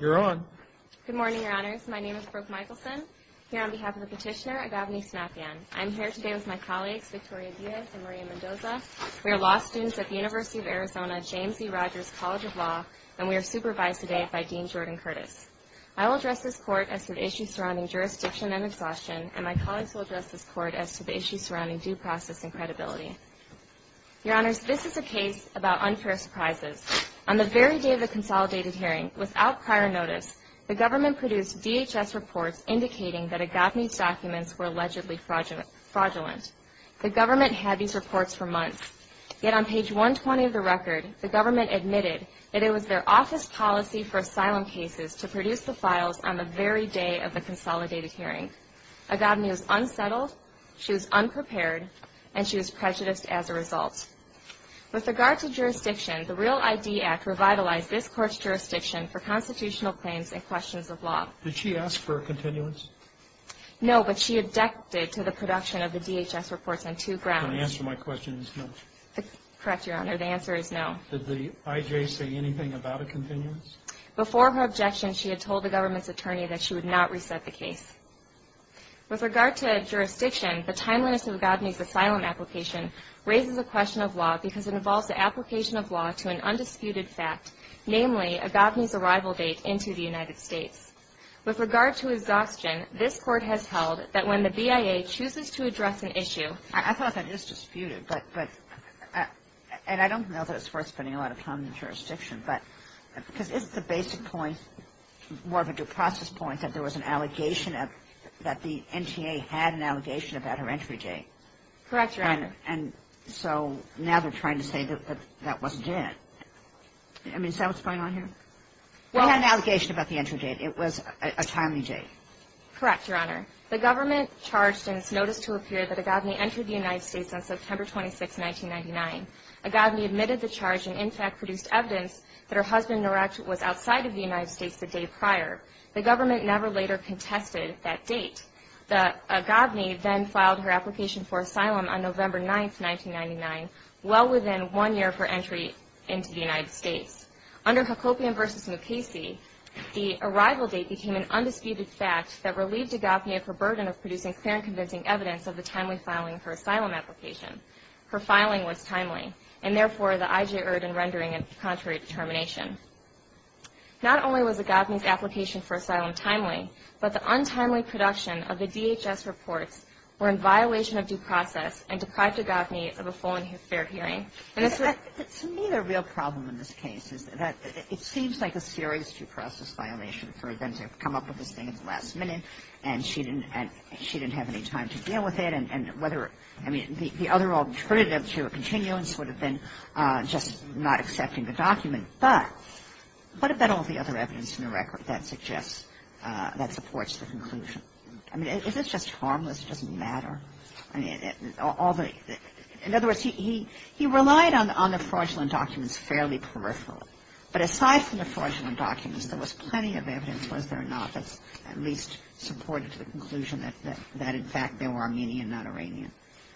You're on. Good morning, your honors. My name is Brooke Michelson here on behalf of the petitioner Agaveny CINAPIAN. I'm here today with my colleagues Victoria Diaz and Maria Mendoza. We are law students at the University of Arizona James E. Rogers College of Law and we are supervised today by Dean Jordan Curtis. I will address this court as to the issues surrounding jurisdiction and exhaustion and my colleagues will address this court as to the issues surrounding due process and credibility. Your honors, this is a case about unfair surprises. On the very day of the consolidated hearing, without prior notice, the government produced DHS reports indicating that Agaveny's documents were allegedly fraudulent. The government had these reports for months. Yet on page 120 of the record, the government admitted that it was their office policy for asylum cases to produce the files on the very day of the consolidated hearing. Agaveny was unsettled, she was unprepared, and she was prejudiced as a result. With regard to jurisdiction, the REAL ID Act revitalized this court's jurisdiction for constitutional claims and questions of law. Did she ask for a continuance? No, but she objected to the production of the DHS reports on two grounds. The answer to my question is no. Correct, your honor. The answer is no. Did the IJ say anything about a continuance? Before her objection, she had told the government's attorney that she would not reset the case. With regard to jurisdiction, the timeliness of Agaveny's asylum application raises a question of law because it involves the application of law to an undisputed fact, namely Agaveny's arrival date into the United States. With regard to exhaustion, this court has held that when the BIA chooses to address an issue I thought that is disputed, but, but, and I don't know that it's worth spending a lot of time on jurisdiction, but, because isn't the basic point more of a due process point that there was an allegation that the NTA had an allegation about her entry date? Correct, your honor. And so now they're trying to say that that wasn't it. I mean, is that what's going on here? We had an allegation about the entry date. It was a timely date. Correct, your honor. The government charged in its notice to appear that Agaveny entered the United States on September 26, 1999. Agaveny admitted the charge and, in fact, produced evidence that her husband was outside of the United States the day prior. The government never later contested that date. Agaveny then filed her application for asylum on November 9, 1999, well within one year of her entry into the United States. Under Hacopian v. Mukasey, the arrival date became an undisputed fact that relieved Agaveny of her burden of producing clear and convincing evidence of the timely filing of her asylum application. Her filing was timely, and, therefore, the I.J. Erd and rendering it contrary to termination. Not only was Agaveny's application for asylum timely, but the untimely production of the DHS reports were in violation of due process and deprived Agaveny of a full and fair hearing. And it's a real problem in this case. It seems like a serious due process violation for them to come up with this thing at the last minute, and she didn't have any time to deal with it. And whether, I mean, the other alternative to a continuance would have been just not accepting the document. But what about all the other evidence in the record that suggests, that supports the conclusion? I mean, is this just harmless? It doesn't matter? In other words, he relied on the fraudulent documents fairly peripherally. But aside from the fraudulent documents, there was plenty of evidence, was there not, that at least supported the conclusion that, in fact, they were Armenian, not Iranian.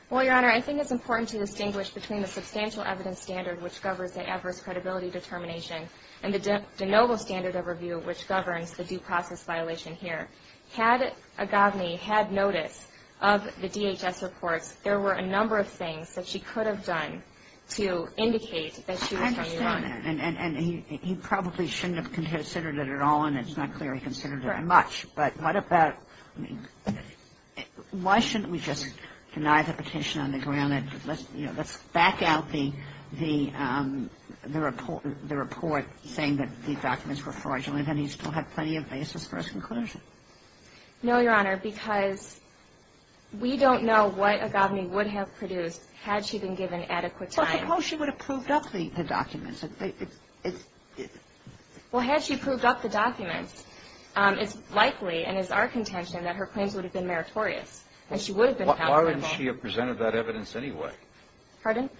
Well, Your Honor, I think it's important to distinguish between the substantial evidence standard, which governs the adverse credibility determination, and the de novo standard overview, which governs the due process violation here. Had Agaveny had notice of the DHS reports, there were a number of things that she could have done to indicate that she was from Iran. I understand that. And he probably shouldn't have considered it at all, and it's not clear he considered it much. Correct. But what about, why shouldn't we just deny the petition on the ground that, you know, Let's back out the report saying that these documents were fraudulent, and he still had plenty of basis for his conclusion. No, Your Honor, because we don't know what Agaveny would have produced had she been given adequate time. Well, suppose she would have proved up the documents. Well, had she proved up the documents, it's likely, and is our contention, that her claims would have been meritorious, and she would have been accountable. Why wouldn't she have presented that evidence anyway? Pardon?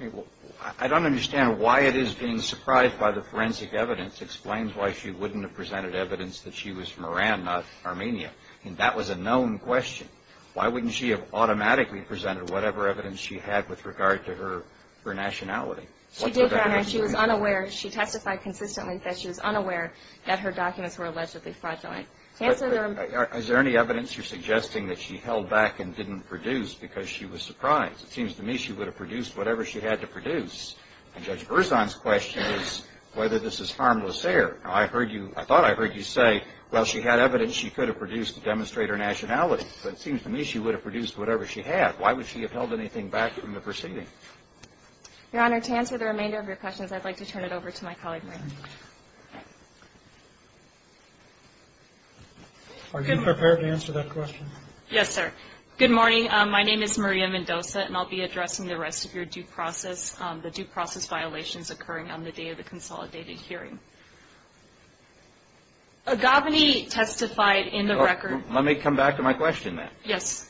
I don't understand why it is being surprised by the forensic evidence explains why she wouldn't have presented evidence that she was from Iran, not Armenia. I mean, that was a known question. Why wouldn't she have automatically presented whatever evidence she had with regard to her nationality? She did, Your Honor. She was unaware. She testified consistently that she was unaware that her documents were allegedly fraudulent. Is there any evidence you're suggesting that she held back and didn't produce because she was surprised? It seems to me she would have produced whatever she had to produce. And Judge Berzon's question is whether this is harmless error. I thought I heard you say, well, she had evidence she could have produced to demonstrate her nationality. But it seems to me she would have produced whatever she had. Why would she have held anything back from the proceeding? Your Honor, to answer the remainder of your questions, I'd like to turn it over to my colleague, Maria. Are you prepared to answer that question? Yes, sir. Good morning. My name is Maria Mendoza, and I'll be addressing the rest of your due process, the due process violations occurring on the day of the consolidated hearing. Aghavani testified in the record. Let me come back to my question, then. Yes.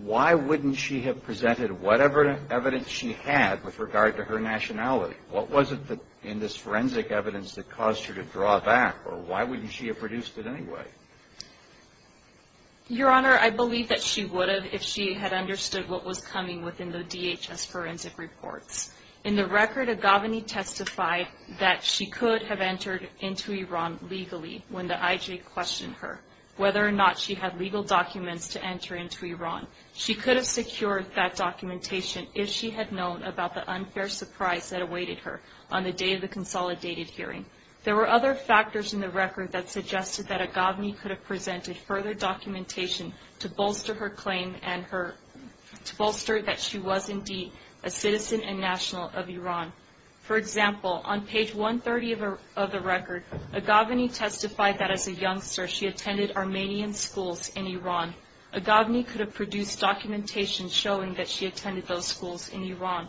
Why wouldn't she have presented whatever evidence she had with regard to her nationality? What was it in this forensic evidence that caused her to draw back, or why wouldn't she have produced it anyway? Your Honor, I believe that she would have if she had understood what was coming within the DHS forensic reports. In the record, Aghavani testified that she could have entered into Iran legally when the IJ questioned her. Whether or not she had legal documents to enter into Iran. She could have secured that documentation if she had known about the unfair surprise that awaited her on the day of the consolidated hearing. There were other factors in the record that suggested that Aghavani could have presented further documentation to bolster her claim and to bolster that she was indeed a citizen and national of Iran. For example, on page 130 of the record, Aghavani testified that as a youngster she attended Armenian schools in Iran. Aghavani could have produced documentation showing that she attended those schools in Iran.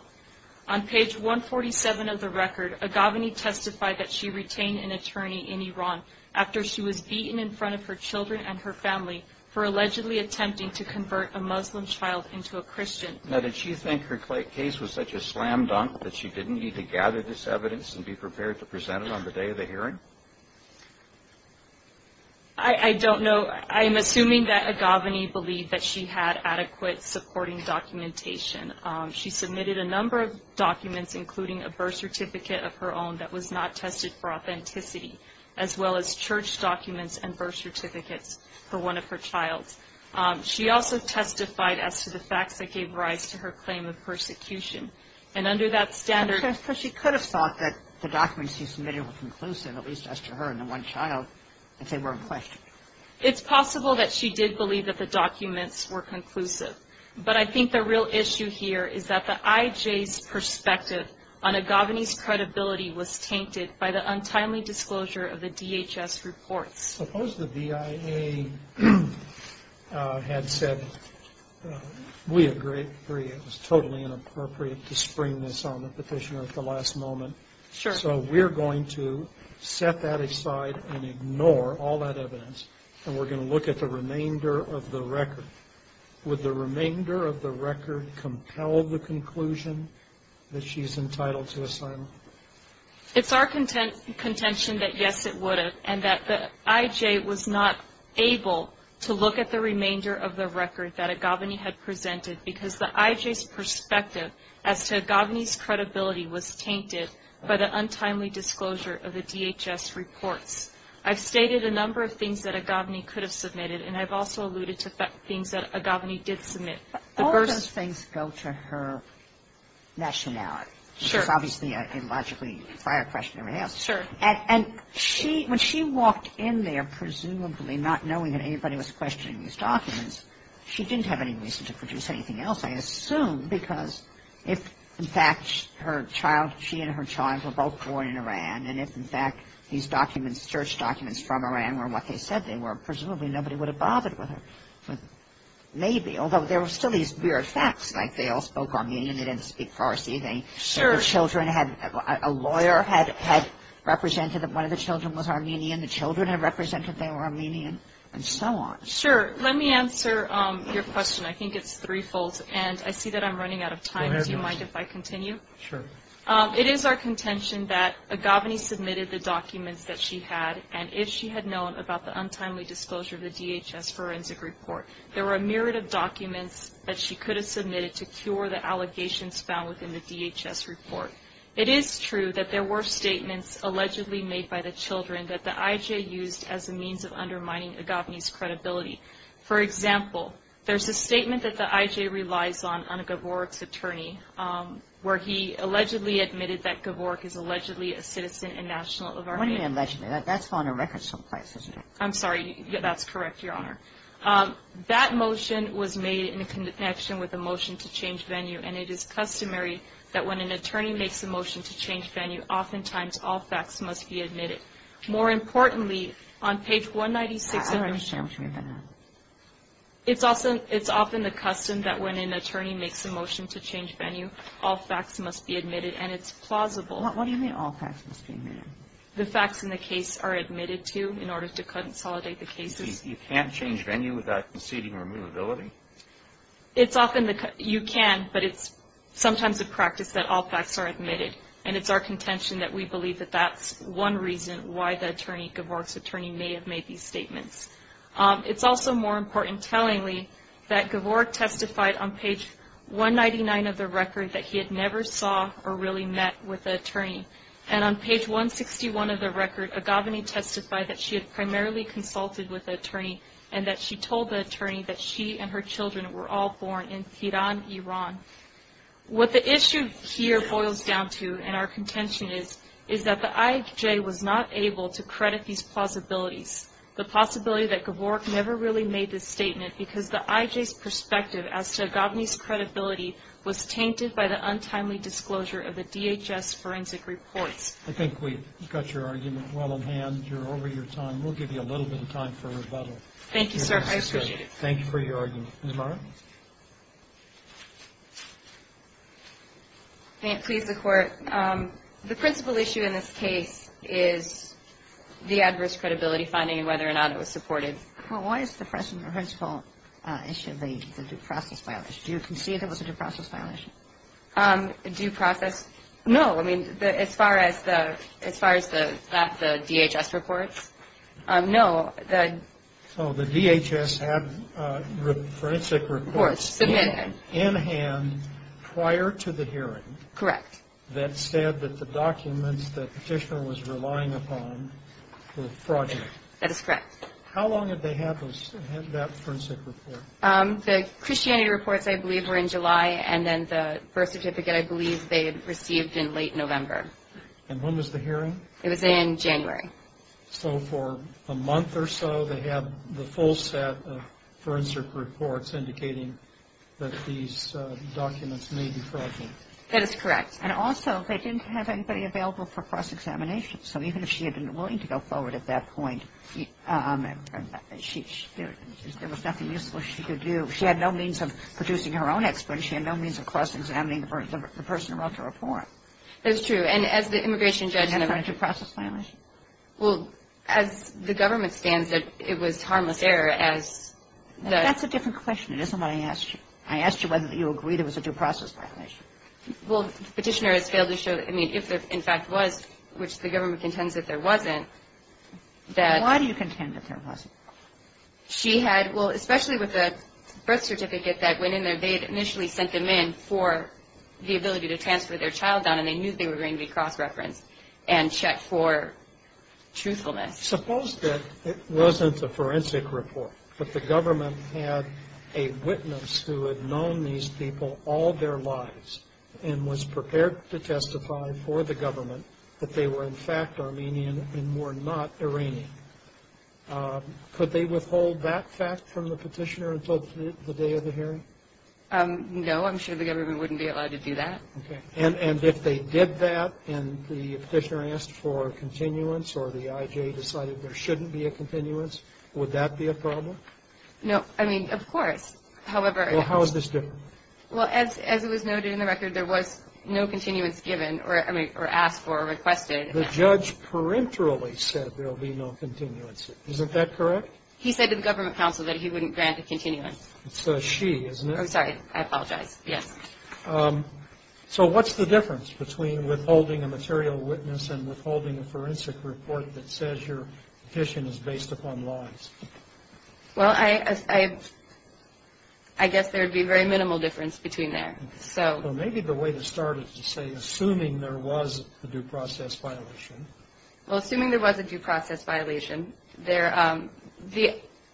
On page 147 of the record, Aghavani testified that she retained an attorney in Iran after she was beaten in front of her children and her family for allegedly attempting to convert a Muslim child into a Christian. Now, did she think her case was such a slam dunk that she didn't need to gather this evidence and be prepared to present it on the day of the hearing? I don't know. I'm assuming that Aghavani believed that she had adequate supporting documentation. She submitted a number of documents, including a birth certificate of her own that was not tested for authenticity, as well as church documents and birth certificates for one of her children. She also testified as to the facts that gave rise to her claim of persecution. And under that standard — But she could have thought that the documents she submitted were conclusive, at least as to her and the one child, if they were in question. It's possible that she did believe that the documents were conclusive. But I think the real issue here is that the IJ's perspective on Aghavani's credibility was tainted by the untimely disclosure of the DHS reports. Suppose the VIA had said, we agree. It was totally inappropriate to spring this on the petitioner at the last moment. So we're going to set that aside and ignore all that evidence, and we're going to look at the remainder of the record. Would the remainder of the record compel the conclusion that she's entitled to asylum? It's our contention that, yes, it would. And that the IJ was not able to look at the remainder of the record that Aghavani had presented because the IJ's perspective as to Aghavani's credibility was tainted by the untimely disclosure of the DHS reports. I've stated a number of things that Aghavani could have submitted, and I've also alluded to things that Aghavani did submit. The first — All those things go to her nationality. Sure. Which is obviously a logically prior question to be asked. Sure. And she — when she walked in there, presumably not knowing that anybody was questioning these documents, she didn't have any reason to produce anything else, I assume, because if, in fact, her child — she and her child were both born in Iran, and if, in fact, these documents — search documents from Iran were what they said they were, presumably nobody would have bothered with her. Maybe, although there were still these weird facts, like they all spoke Armenian, they didn't speak Farsi, they — Sure. The children had — a lawyer had represented that one of the children was Armenian, the children had represented they were Armenian, and so on. Sure. Let me answer your question. I think it's threefold, and I see that I'm running out of time. Go ahead. Do you mind if I continue? Sure. It is our contention that Aghavani submitted the documents that she had, and if she had known about the untimely disclosure of the DHS forensic report, there were a myriad of documents that she could have submitted to cure the allegations found within the DHS report. It is true that there were statements allegedly made by the children that the IJ used as a means of undermining Aghavani's credibility. For example, there's a statement that the IJ relies on, on Gavork's attorney, where he allegedly admitted that Gavork is allegedly a citizen and national of Armenia. What do you mean allegedly? That's on the record someplace, isn't it? I'm sorry. That's correct, Your Honor. That motion was made in connection with the motion to change venue, and it is customary that when an attorney makes a motion to change venue, oftentimes all facts must be admitted. More importantly, on page 196 of the motion to change venue, it's often the custom that when an attorney makes a motion to change venue, all facts must be admitted, and it's plausible. What do you mean all facts must be admitted? The facts in the case are admitted to in order to consolidate the cases. You can't change venue without conceding removability? You can, but it's sometimes a practice that all facts are admitted, and it's our contention that we believe that that's one reason why Gavork's attorney may have made these statements. It's also more important tellingly that Gavork testified on page 199 of the record that he had never saw or really met with an attorney, and on page 161 of the record, Aghavani testified that she had primarily consulted with the attorney and that she told the attorney that she and her children were all born in Tehran, Iran. What the issue here boils down to, and our contention is, is that the IJ was not able to credit these plausibilities, the possibility that Gavork never really made this statement because the IJ's perspective as to Aghavani's credibility was tainted by the untimely disclosure of the DHS forensic reports. I think we've got your argument well in hand. You're over your time. We'll give you a little bit of time for rebuttal. Thank you, sir. I appreciate it. Thank you for your argument. Ms. Morrow? May it please the Court? The principal issue in this case is the adverse credibility finding and whether or not it was supported. Well, why is the principal issue the due process violation? Do you concede it was a due process violation? Due process? No. I mean, as far as the DHS reports, no. So the DHS had forensic reports in hand prior to the hearing. Correct. That said that the documents that Petitioner was relying upon were fraudulent. That is correct. How long did they have that forensic report? The Christianity reports, I believe, were in July, and then the birth certificate I believe they had received in late November. And when was the hearing? It was in January. So for a month or so they had the full set of forensic reports indicating that these documents may be fraudulent. That is correct. And also they didn't have anybody available for cross-examination. So even if she had been willing to go forward at that point, there was nothing useful she could do. She had no means of producing her own experts. She had no means of cross-examining the person who wrote the report. That's true. And as the immigration judge said to her. Was that a due process violation? Well, as the government stands, it was harmless error as the... That's a different question. It isn't what I asked you. I asked you whether you agree there was a due process violation. Well, Petitioner has failed to show, I mean, if there in fact was, which the government contends that there wasn't, that... Why do you contend that there wasn't? She had, well, especially with the birth certificate that went in there, they had initially sent them in for the ability to transfer their child down, and they knew they were going to be cross-referenced and checked for truthfulness. Suppose that it wasn't a forensic report, but the government had a witness who had known these people all their lives and was prepared to testify for the government that they were, in fact, Armenian and were not Iranian. Could they withhold that fact from the Petitioner until the day of the hearing? No. I'm sure the government wouldn't be allowed to do that. Okay. And if they did that and the Petitioner asked for a continuance or the IJ decided there shouldn't be a continuance, would that be a problem? No. I mean, of course. However... Well, how is this different? Well, as it was noted in the record, there was no continuance given or, I mean, or asked for or requested. The judge peremptorily said there will be no continuance. Isn't that correct? He said to the government counsel that he wouldn't grant a continuance. It's a she, isn't it? I'm sorry. I apologize. Yes. So what's the difference between withholding a material witness and withholding a forensic report that says your petition is based upon lies? Well, I guess there would be very minimal difference between there. Well, maybe the way to start is to say assuming there was a due process violation. Well, assuming there was a due process violation, the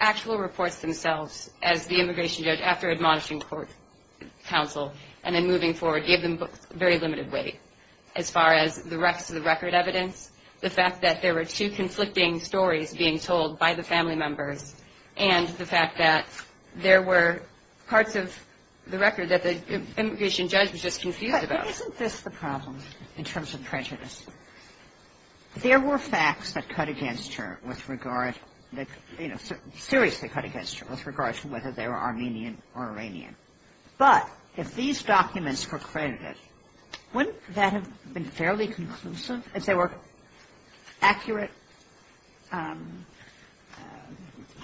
actual reports themselves as the immigration judge, after admonishing court counsel and then moving forward, gave them very limited weight as far as the rest of the record evidence, the fact that there were two conflicting stories being told by the family members and the fact that there were parts of the record that the immigration judge was just confused about. But isn't this the problem in terms of prejudice? There were facts that cut against her with regard, you know, seriously cut against her with regard to whether they were Armenian or Iranian. But if these documents were credited, wouldn't that have been fairly conclusive as they were accurate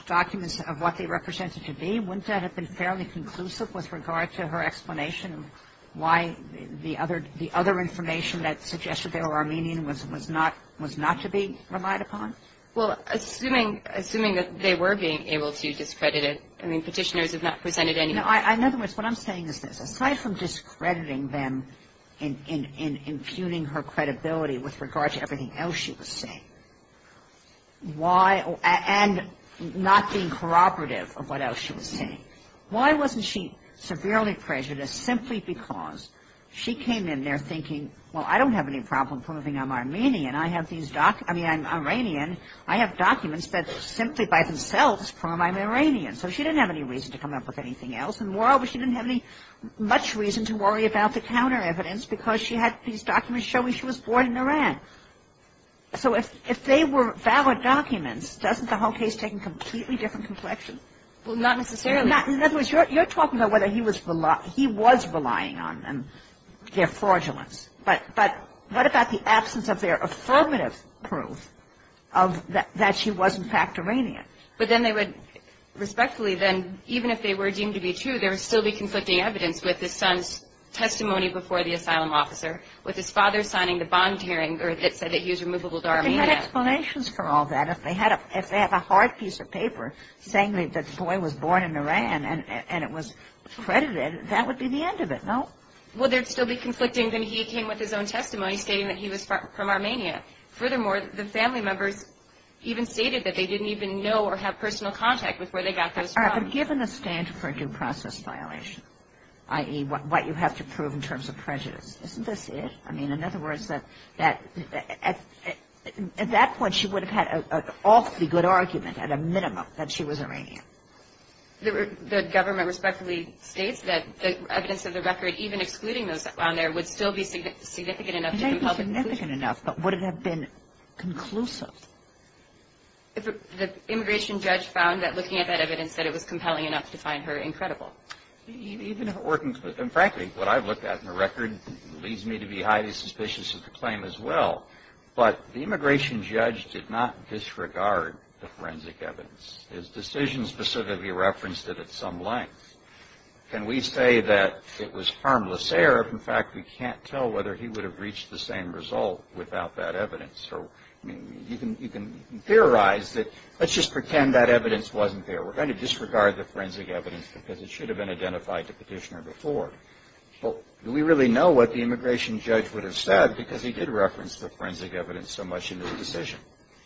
documents of what they represented to be? Wouldn't that have been fairly conclusive with regard to her explanation of why the other information that suggested they were Armenian was not to be relied upon? Well, assuming that they were being able to discredit it, I mean, Petitioners have not presented any evidence. In other words, what I'm saying is this. Why wasn't she severely prejudiced simply because she came in there thinking, well, I don't have any problem proving I'm Armenian. I have these documents. I mean, I'm Iranian. I have documents that simply by themselves prove I'm Iranian. So she didn't have any reason to come up with anything else. And moreover, she didn't have any much reason to worry about the counter evidence. So if they were valid documents, doesn't the whole case take a completely different complexion? Well, not necessarily. In other words, you're talking about whether he was relying on them, their fraudulence. But what about the absence of their affirmative proof that she was, in fact, Iranian? But then they would respectfully then, even if they were deemed to be true, there would still be conflicting evidence with the son's testimony before the court. With his father signing the bond hearing that said that he was removable to Armenia. But they had explanations for all that. If they had a hard piece of paper saying that the boy was born in Iran and it was credited, that would be the end of it, no? Well, there would still be conflicting. Then he came with his own testimony stating that he was from Armenia. Furthermore, the family members even stated that they didn't even know or have personal contact with where they got those from. But given the standard for a due process violation, i.e., what you have to prove in terms of prejudice, isn't this it? I mean, in other words, at that point she would have had an awfully good argument at a minimum that she was Iranian. The government respectfully states that the evidence of the record, even excluding those on there would still be significant enough to be public. It may be significant enough, but would it have been conclusive? The immigration judge found that looking at that evidence that it was compelling enough to find her incredible. Frankly, what I've looked at in the record leads me to be highly suspicious of the claim as well. But the immigration judge did not disregard the forensic evidence. His decision specifically referenced it at some length. Can we say that it was harmless error if, in fact, we can't tell whether he would have reached the same result without that evidence? I mean, you can theorize that let's just pretend that evidence wasn't there. We're going to disregard the forensic evidence because it should have been identified to Petitioner before. But do we really know what the immigration judge would have said because he did reference the forensic evidence so much in his decision?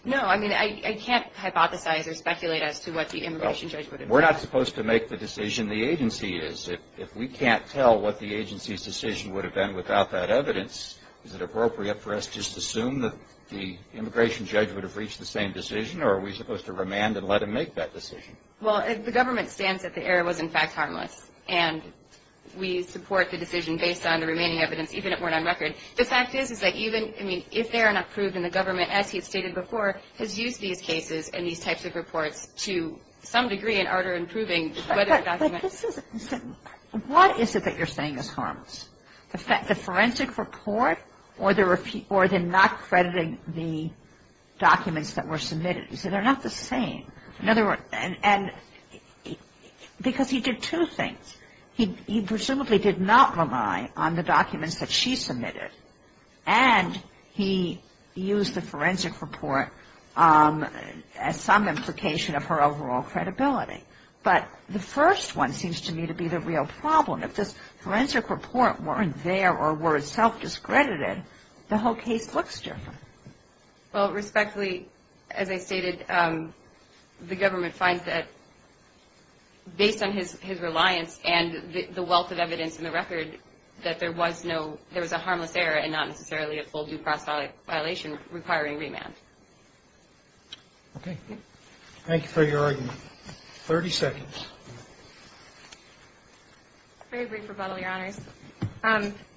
No. I mean, I can't hypothesize or speculate as to what the immigration judge would have said. Well, we're not supposed to make the decision the agency is. If we can't tell what the agency's decision would have been without that evidence, is it appropriate for us just to assume that the immigration judge would have reached the same decision or are we supposed to remand and let him make that decision? Well, the government stands that the error was, in fact, harmless. And we support the decision based on the remaining evidence, even if it weren't on record. The fact is, is that even, I mean, if they are not proved, then the government, as he had stated before, has used these cases and these types of reports to some degree in order in proving whether the document What is it that you're saying is harmless? The forensic report or the not crediting the documents that were submitted. He said they're not the same. In other words, and because he did two things. He presumably did not rely on the documents that she submitted and he used the forensic report as some implication of her overall credibility. But the first one seems to me to be the real problem. If this forensic report weren't there or were self-discredited, the whole case looks different. Well, respectfully, as I stated, the government finds that based on his reliance and the wealth of evidence in the record, that there was a harmless error and not necessarily a full due process violation requiring remand. Okay. Thank you for your argument. Thirty seconds. Very brief rebuttal, Your Honors.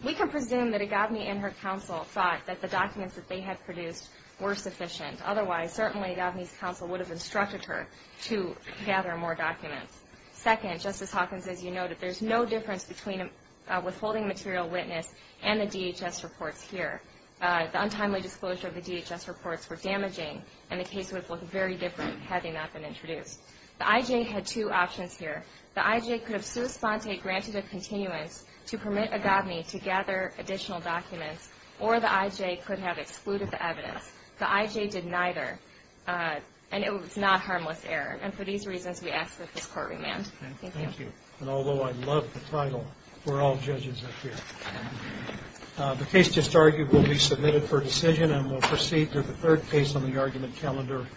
We can presume that Agave and her counsel thought that the documents that they had produced were sufficient. Otherwise, certainly Agave's counsel would have instructed her to gather more documents. Second, Justice Hawkins, as you noted, there's no difference between withholding material witness and the DHS reports here. The untimely disclosure of the DHS reports were damaging and the case would have looked very different had they not been introduced. The I.J. had two options here. The I.J. could have sua sponte granted a continuance to permit Agave to gather additional documents, or the I.J. could have excluded the evidence. The I.J. did neither, and it was not harmless error. And for these reasons, we ask that this court remand. Thank you. And although I love the title, we're all judges up here. The case just argued will be submitted for decision and will proceed to the third case on the argument calendar.